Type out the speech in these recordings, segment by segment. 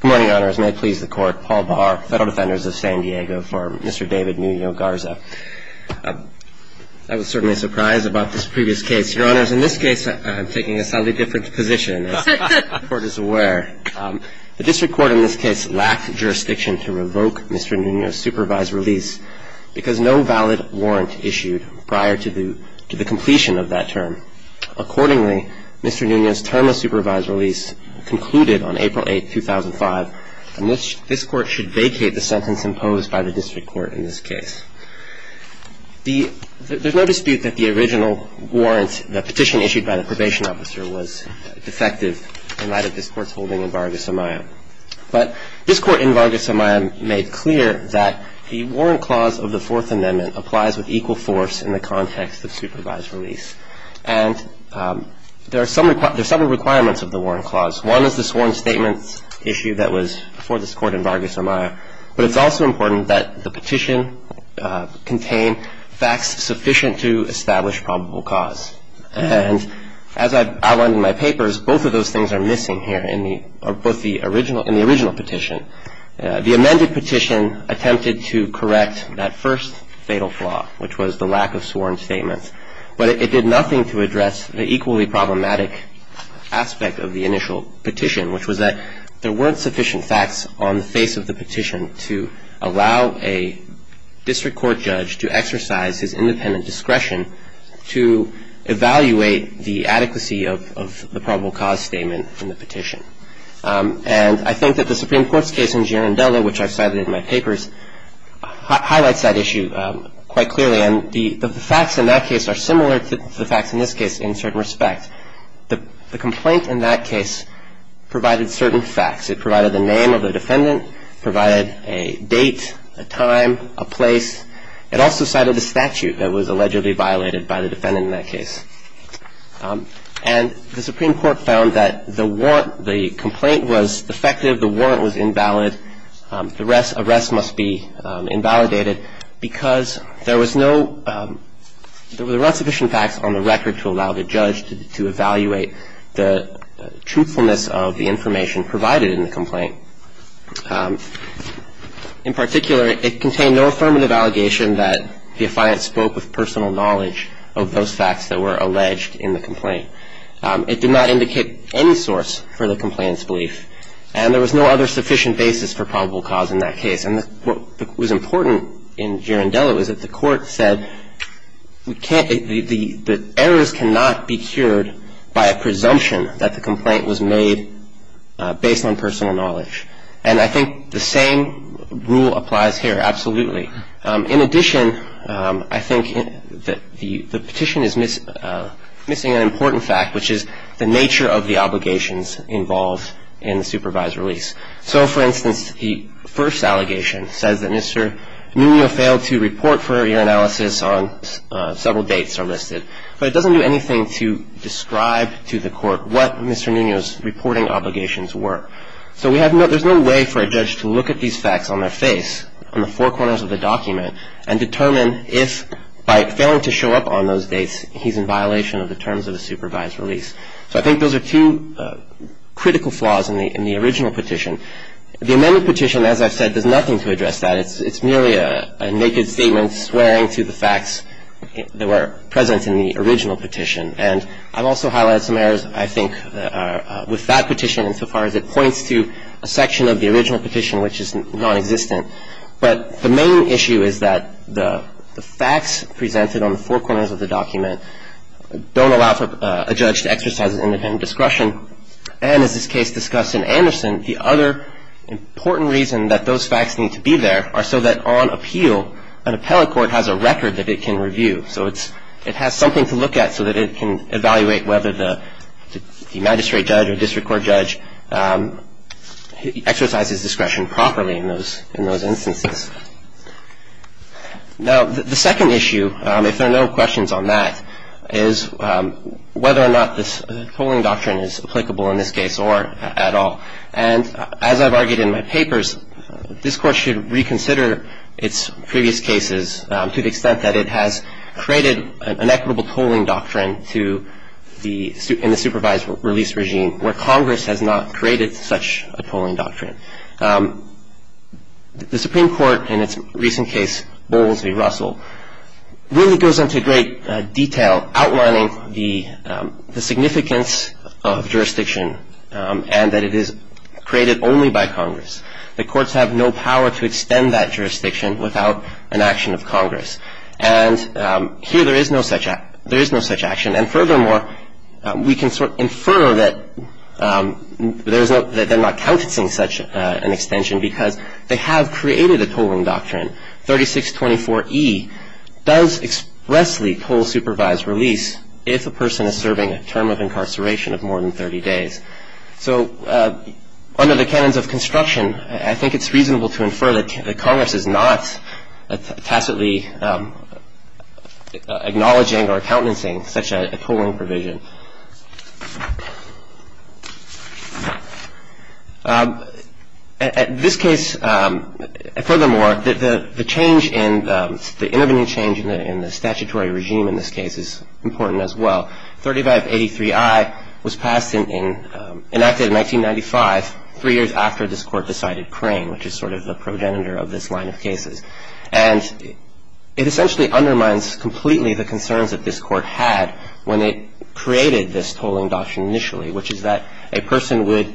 Good morning, Your Honors. May it please the Court, Paul Barr, Federal Defenders of San Diego, for Mr. David Nuno-Garza. I was certainly surprised about this previous case. Your Honors, in this case, I'm taking a slightly different position, as the Court is aware. The district court in this case lacked jurisdiction to revoke Mr. Nuno's supervised release because no valid warrant issued prior to the completion of that term. Accordingly, Mr. Nuno's term of supervised release concluded on April 8, 2005, and this Court should vacate the sentence imposed by the district court in this case. There's no dispute that the original warrant, the petition issued by the probation officer, was defective in light of this Court's holding in Vargas Amaya. But this Court in Vargas Amaya made clear that the warrant clause of the Fourth Amendment applies with equal force in the context of supervised release. And there are several requirements of the warrant clause. One is the sworn statements issue that was before this Court in Vargas Amaya. But it's also important that the petition contain facts sufficient to establish probable cause. And as I've outlined in my papers, both of those things are missing here in the original petition. The amended petition attempted to correct that first fatal flaw, which was the lack of sworn statements. But it did nothing to address the equally problematic aspect of the initial petition, which was that there weren't sufficient facts on the face of the petition to allow a district court judge to exercise his independent discretion to evaluate the adequacy of the probable cause statement in the petition. And I think that the Supreme Court's case in Girondella, which I've cited in my papers, highlights that issue quite clearly. And the facts in that case are similar to the facts in this case in certain respect. The complaint in that case provided certain facts. It provided the name of the defendant, provided a date, a time, a place. It also cited a statute that was allegedly violated by the defendant in that case. And the Supreme Court found that the warrant, the complaint was defective, the warrant was invalid, the arrest must be invalidated because there was no ‑‑ there were not sufficient facts on the record to allow the judge to evaluate the truthfulness of the information provided in the complaint. In particular, it contained no affirmative allegation that the defiant spoke with personal knowledge of those facts that were alleged in the complaint. It did not indicate any source for the complainant's belief. And there was no other sufficient basis for probable cause in that case. And what was important in Girondella was that the Court said we can't ‑‑ the errors cannot be cured by a presumption that the complaint was made based on personal knowledge. And I think the same rule applies here, absolutely. In addition, I think that the petition is missing an important fact, which is the nature of the obligations involved in the supervised release. So, for instance, the first allegation says that Mr. Nuno failed to report for ear analysis on several dates are listed. But it doesn't do anything to describe to the Court what Mr. Nuno's reporting obligations were. So we have no ‑‑ there's no way for a judge to look at these facts on their face, on the four corners of the document, and determine if, by failing to show up on those dates, he's in violation of the terms of a supervised release. So I think those are two critical flaws in the original petition. The amended petition, as I've said, does nothing to address that. It's merely a naked statement swearing to the facts that were present in the original petition. And I've also highlighted some errors, I think, with that petition, insofar as it points to a section of the original petition which is nonexistent. But the main issue is that the facts presented on the four corners of the document don't allow a judge to exercise independent discretion. And as this case discussed in Anderson, the other important reason that those facts need to be there are so that on appeal, an appellate court has a record that it can review. So it has something to look at so that it can evaluate whether the magistrate judge or district court judge exercises discretion properly in those instances. Now, the second issue, if there are no questions on that, is whether or not this tolling doctrine is applicable in this case or at all. And as I've argued in my papers, this Court should reconsider its previous cases to the extent that it has created an equitable tolling doctrine in the supervised release regime where Congress has not created such a tolling doctrine. The Supreme Court in its recent case, Bowles v. Russell, really goes into great detail outlining the significance of jurisdiction and that it is created only by Congress. The courts have no power to extend that jurisdiction without an action of Congress. And here there is no such action. And furthermore, we can infer that they're not countencing such an extension because they have created a tolling doctrine. 3624E does expressly toll supervised release if a person is serving a term of incarceration of more than 30 days. So under the canons of construction, I think it's reasonable to infer that Congress is not tacitly acknowledging or countencing such a tolling provision. This case, furthermore, the change in the intervening change in the statutory regime in this case is important as well. 3583I was enacted in 1995, three years after this Court decided Crane, which is sort of the progenitor of this line of cases. And it essentially undermines completely the concerns that this Court had when it created this tolling doctrine initially, which is that a person would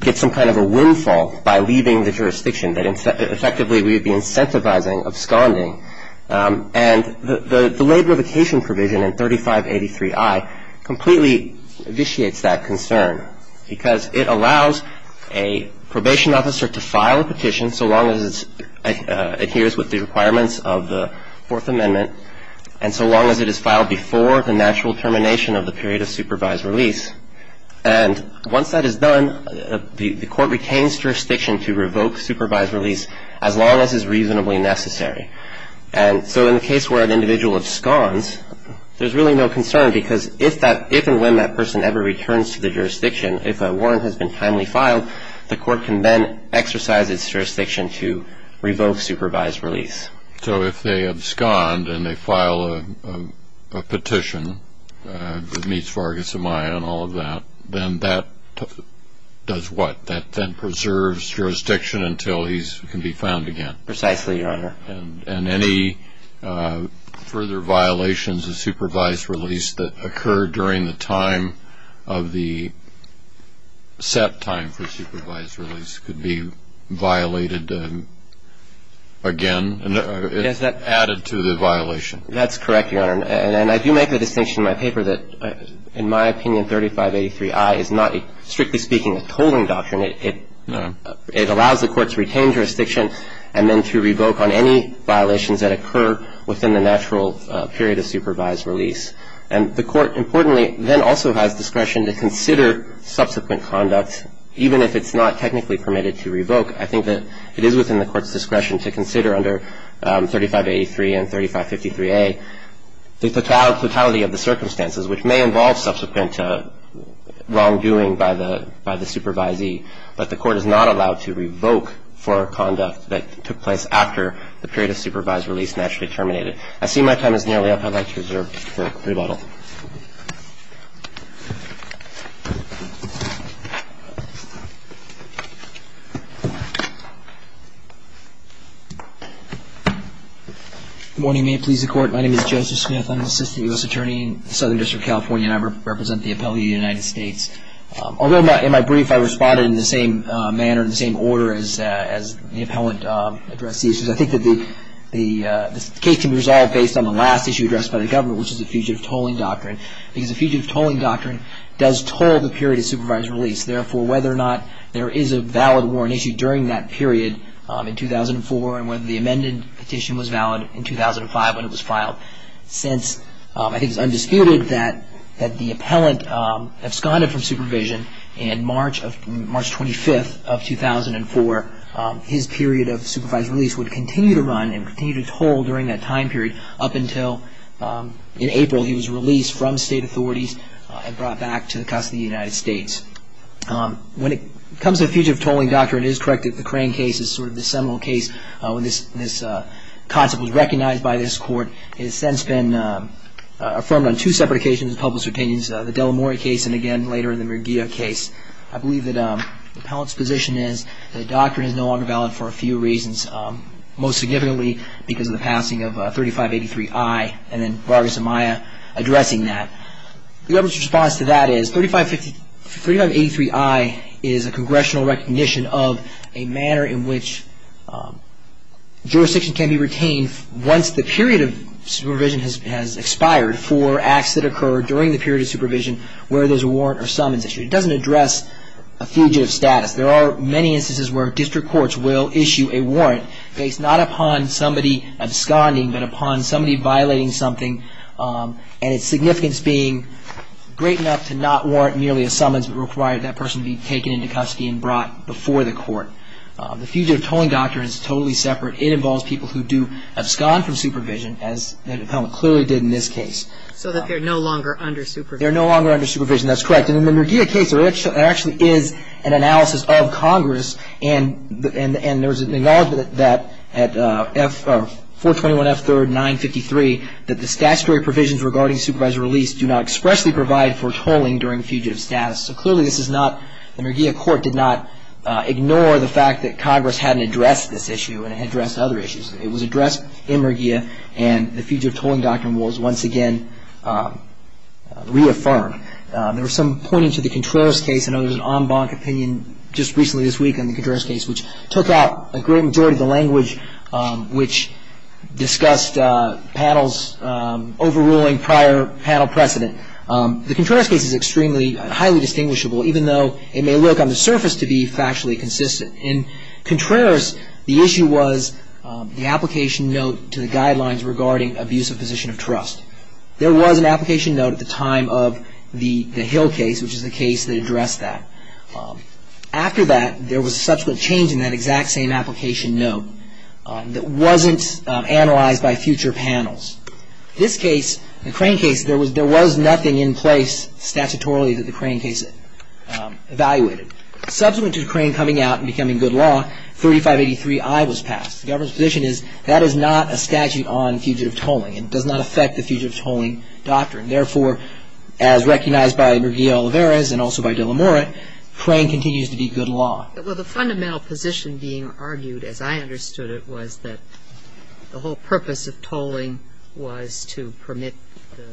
get some kind of a windfall by leaving the jurisdiction, that effectively we would be incentivizing, absconding. And the labor vacation provision in 3583I completely vitiates that concern because it allows a probation officer to file a petition so long as it adheres with the requirements of the Fourth Amendment and so long as it is filed before the natural termination of the period of supervised release. And once that is done, the Court retains jurisdiction to revoke supervised release as long as is reasonably necessary. And so in the case where an individual absconds, there's really no concern because if and when that person ever returns to the jurisdiction, if a warrant has been timely filed, the Court can then exercise its jurisdiction to revoke supervised release. So if they abscond and they file a petition that meets Vargas Amaya and all of that, then that does what? That then preserves jurisdiction until he can be found again? Precisely, Your Honor. And any further violations of supervised release that occur during the time of the set time for supervised release could be violated again? It's added to the violation. That's correct, Your Honor. And I do make the distinction in my paper that, in my opinion, 3583I is not, strictly speaking, a tolling doctrine. It allows the courts to retain jurisdiction and then to revoke on any violations that occur within the natural period of supervised release. And the Court, importantly, then also has discretion to consider subsequent conduct, even if it's not technically permitted to revoke. I think that it is within the Court's discretion to consider under 3583 and 3553A the totality of the circumstances, which may involve subsequent wrongdoing by the supervisee. But the Court is not allowed to revoke for conduct that took place after the period of supervised release naturally terminated. I see my time is nearly up. I'd like to reserve the rebuttal. Good morning. May it please the Court. My name is Joseph Smith. I'm an assistant U.S. attorney in the Southern District of California, and I represent the appellate of the United States. Although in my brief I responded in the same manner, in the same order as the appellant addressed the issues, I think that the case can be resolved based on the last issue addressed by the government, which is the fugitive tolling doctrine. The fugitive tolling doctrine does toll the period of supervised release. Therefore, whether or not there is a valid warrant issued during that period in 2004 and whether the amended petition was valid in 2005 when it was filed. Since I think it's undisputed that the appellant absconded from supervision in March 25th of 2004, his period of supervised release would continue to run and continue to toll during that time period up until in April he was released from state authorities and brought back to the custody of the United States. When it comes to the fugitive tolling doctrine, it is correct that the Crane case is sort of the seminal case when this concept was recognized by this Court. It has since been affirmed on two separate occasions in the public's opinions, the Delamore case and, again, later in the Murguia case. I believe that the appellant's position is that the doctrine is no longer valid for a few reasons, most significantly because of the passing of 3583I and then Vargas and Maya addressing that. The government's response to that is 3583I is a congressional recognition of a manner in which jurisdiction can be retained once the period of supervision has expired for acts that occur during the period of supervision where there's a warrant or summons issued. It doesn't address a fugitive status. There are many instances where district courts will issue a warrant based not upon somebody absconding but upon somebody violating something and its significance being great enough to not warrant merely a summons but require that person be taken into custody and brought before the court. The fugitive tolling doctrine is totally separate. It involves people who do abscond from supervision, as the appellant clearly did in this case. So that they're no longer under supervision. They're no longer under supervision. That's correct. In the Murguia case, there actually is an analysis of Congress and there's an acknowledgment that at 421F3rd 953 that the statutory provisions regarding supervisory release do not expressly provide for tolling during fugitive status. So clearly this is not, the Murguia court did not ignore the fact that Congress hadn't addressed this issue and addressed other issues. It was addressed in Murguia and the fugitive tolling doctrine was once again reaffirmed. There was some pointing to the Contreras case. I know there was an en banc opinion just recently this week on the Contreras case, which took out a great majority of the language which discussed panels overruling prior panel precedent. The Contreras case is extremely highly distinguishable, even though it may look on the surface to be factually consistent. In Contreras, the issue was the application note to the guidelines regarding abusive position of trust. There was an application note at the time of the Hill case, which is the case that addressed that. After that, there was a subsequent change in that exact same application note that wasn't analyzed by future panels. This case, the Crane case, there was nothing in place statutorily that the Crane case evaluated. Subsequent to Crane coming out and becoming good law, 3583I was passed. The government's position is that is not a statute on fugitive tolling. It does not affect the fugitive tolling doctrine. Therefore, as recognized by Murguía-Olivares and also by de la Mora, Crane continues to be good law. Well, the fundamental position being argued, as I understood it, was that the whole purpose of tolling was to permit the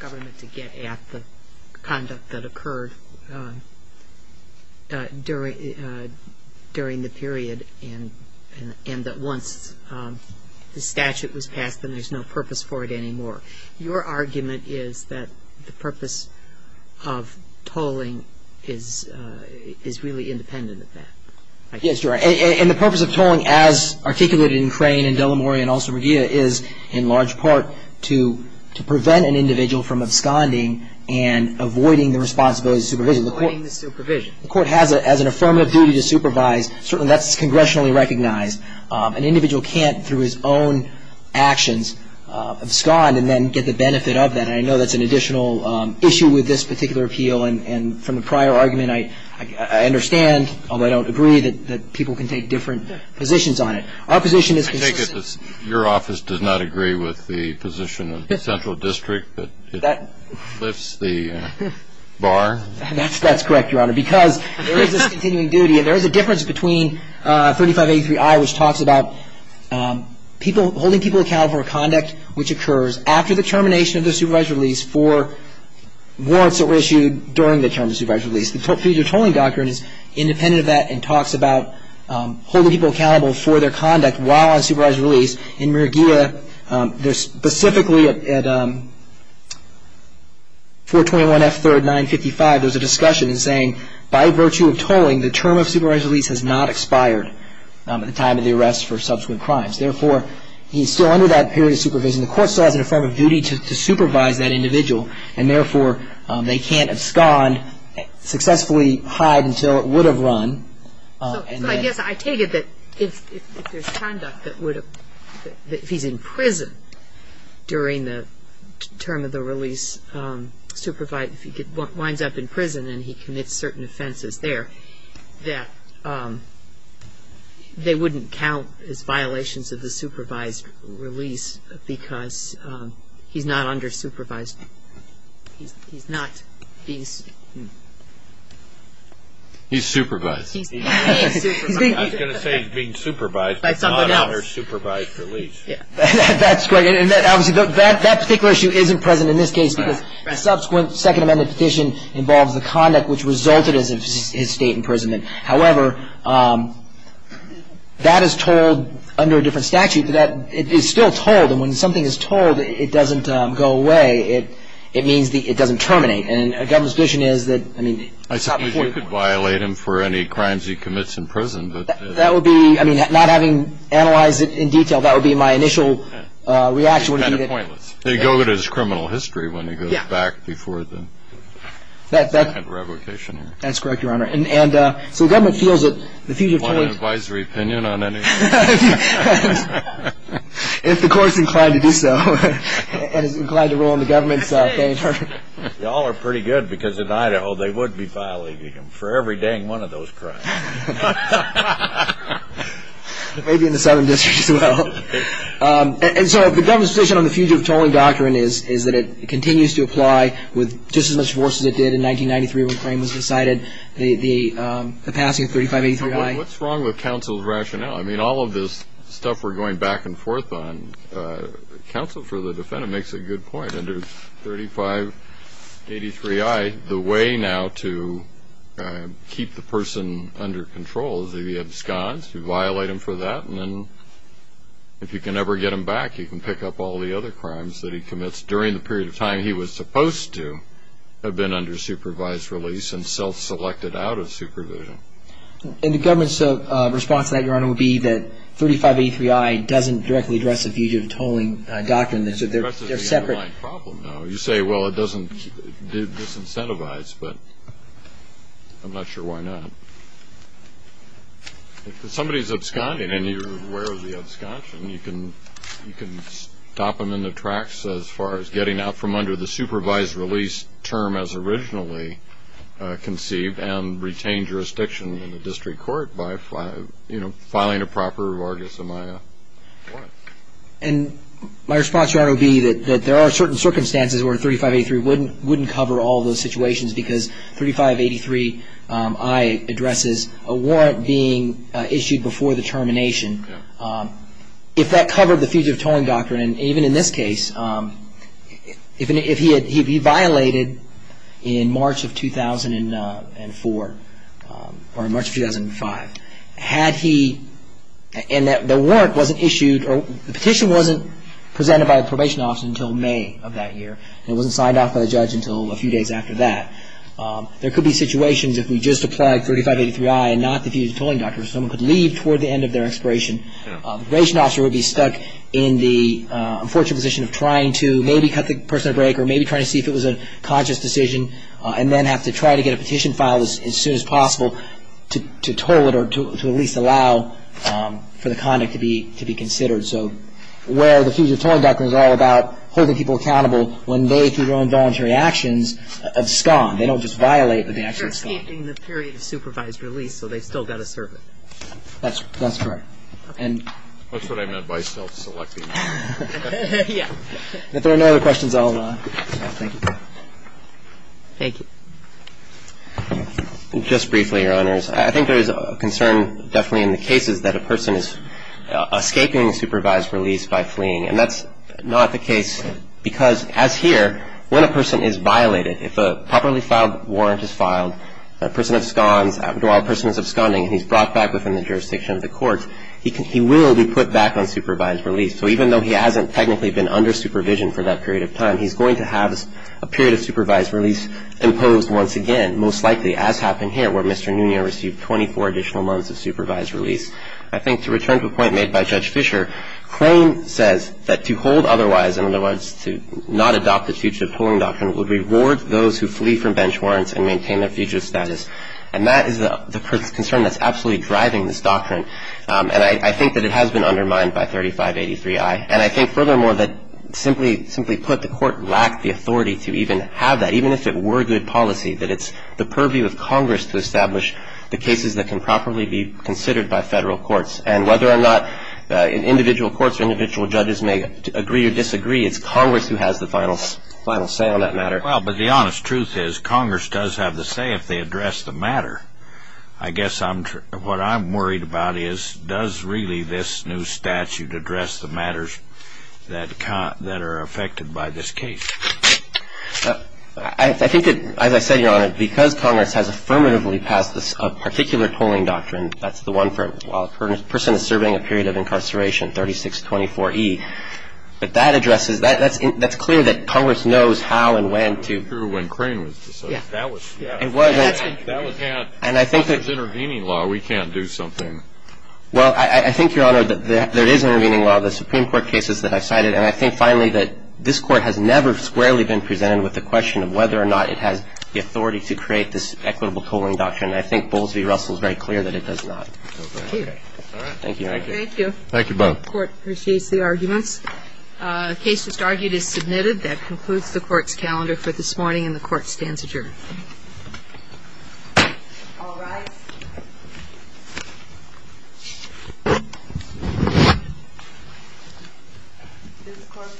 government to get at the conduct that occurred during the period and that once the statute was passed, then there's no purpose for it anymore. Your argument is that the purpose of tolling is really independent of that. Yes, Your Honor. And the purpose of tolling, as articulated in Crane and de la Mora and also Murguía, is in large part to prevent an individual from absconding and avoiding the responsibility of supervision. Avoiding the supervision. The court has an affirmative duty to supervise. Certainly that's congressionally recognized. An individual can't, through his own actions, abscond and then get the benefit of that. And I know that's an additional issue with this particular appeal. And from the prior argument, I understand, although I don't agree, that people can take different positions on it. Our position is consistent. I take it your office does not agree with the position of the central district that it lifts the bar? That's correct, Your Honor. Because there is this continuing duty, and there is a difference between 3583I, which talks about holding people accountable for conduct which occurs after the termination of the supervised release for warrants that were issued during the term of the supervised release. Your tolling doctrine is independent of that and talks about holding people accountable for their conduct while on supervised release. In Mergia, specifically at 421F3rd 955, there's a discussion saying, by virtue of tolling, the term of supervised release has not expired at the time of the arrest for subsequent crimes. Therefore, he's still under that period of supervision. The court still has an affirmative duty to supervise that individual, and therefore they can't abscond, successfully hide until it would have run. So I guess I take it that if there's conduct that would have, that if he's in prison during the term of the release, supervised, if he winds up in prison and he commits certain offenses there, that they wouldn't count as violations of the supervised release because he's not under supervised. He's not being... He's supervised. I was going to say he's being supervised, but not under supervised release. That's great. And obviously that particular issue isn't present in this case because a subsequent Second Amendment petition involves the conduct which resulted in his state imprisonment. However, that is told under a different statute, but it is still told. And when something is told, it doesn't go away. It means it doesn't terminate. And the government's position is that, I mean... I suppose you could violate him for any crimes he commits in prison, but... That would be, I mean, not having analyzed it in detail, that would be my initial reaction would be that... Kind of pointless. They go to his criminal history when he goes back before the second revocation. That's correct, Your Honor. And so the government feels that the fugitive... Want an advisory opinion on any of this? If the court's inclined to do so and is inclined to rule in the government's favor. Y'all are pretty good because in Idaho they would be violating him for every dang one of those crimes. Maybe in the Southern District as well. And so the government's position on the fugitive tolling doctrine is that it continues to apply with just as much force as it did in 1993 when the claim was decided, the passing of 3583I. What's wrong with counsel's rationale? I mean, all of this stuff we're going back and forth on, counsel for the defendant makes a good point under 3583I. The way now to keep the person under control is that he absconds, you violate him for that, and then if you can ever get him back, you can pick up all the other crimes that he commits during the period of time he was supposed to have been under supervised release and self-selected out of supervision. And the government's response to that, Your Honor, would be that 3583I doesn't directly address the fugitive tolling doctrine. It addresses the underlying problem, though. You say, well, it doesn't disincentivize, but I'm not sure why not. If somebody's absconding and you're aware of the absconding, you can stop them in the tracks as far as getting out from under the supervised release term as originally conceived and retain jurisdiction in the district court by, you know, filing a proper reward as a minor warrant. And my response, Your Honor, would be that there are certain circumstances where 3583 wouldn't cover all those situations because 3583I addresses a warrant being issued before the termination. If that covered the fugitive tolling doctrine, and even in this case, if he violated in March of 2004 or March of 2005, had he, and the warrant wasn't issued, the petition wasn't presented by a probation officer until May of that year. It wasn't signed off by the judge until a few days after that. There could be situations if we just applied 3583I and not the fugitive tolling doctrine, someone could leave toward the end of their expiration. The probation officer would be stuck in the unfortunate position of trying to maybe cut the person at a break or maybe trying to see if it was a conscious decision and then have to try to get a petition filed as soon as possible to toll it or to at least allow for the conduct to be considered. So where the fugitive tolling doctrine is all about holding people accountable when they, through their own voluntary actions, abscond. They don't just violate, but they actually abscond. They're escaping the period of supervised release, so they've still got to serve it. That's correct. And that's what I meant by self-selecting. Yeah. If there are no other questions, I'll stop. Thank you. Thank you. Just briefly, Your Honors. I think there is a concern definitely in the cases that a person is escaping supervised release by fleeing. And that's not the case because, as here, when a person is violated, if a properly filed warrant is filed, a person absconds while a person is absconding and he's brought back within the jurisdiction of the courts, he will be put back on supervised release. So even though he hasn't technically been under supervision for that period of time, he's going to have a period of supervised release imposed once again, most likely, as happened here where Mr. Nunez received 24 additional months of supervised release. I think to return to a point made by Judge Fisher, claim says that to hold otherwise, in other words, to not adopt the fugitive tolling doctrine, would reward those who flee from bench warrants and maintain their fugitive status. And that is the concern that's absolutely driving this doctrine. And I think that it has been undermined by 3583I. And I think, furthermore, that simply put, the Court lacked the authority to even have that, even if it were good policy, that it's the purview of Congress to establish the cases that can properly be considered by Federal courts. And whether or not individual courts or individual judges may agree or disagree, it's Congress who has the final say on that matter. Well, but the honest truth is Congress does have the say if they address the matter. I guess what I'm worried about is does really this new statute address the matters that are affected by this case? I think that, as I said, Your Honor, because Congress has affirmatively passed a particular tolling doctrine, that's the one for a person serving a period of incarceration, 3624E, but that addresses, that's clear that Congress knows how and when to. It wasn't true when Crane was decided. Yeah. That was, yeah. It wasn't. That was, yeah. And I think that. Unless there's intervening law, we can't do something. Well, I think, Your Honor, that there is intervening law. The Supreme Court cases that I cited. And I think, finally, that this Court has never squarely been presented with the question of whether or not it has the authority to create this equitable tolling doctrine. And I think Bowles v. Russell is very clear that it does not. Okay. All right. Thank you. Thank you both. The Court appreciates the arguments. The case just argued is submitted. That concludes the Court's calendar for this morning, and the Court stands adjourned. All rise. This Court for this session stands adjourned.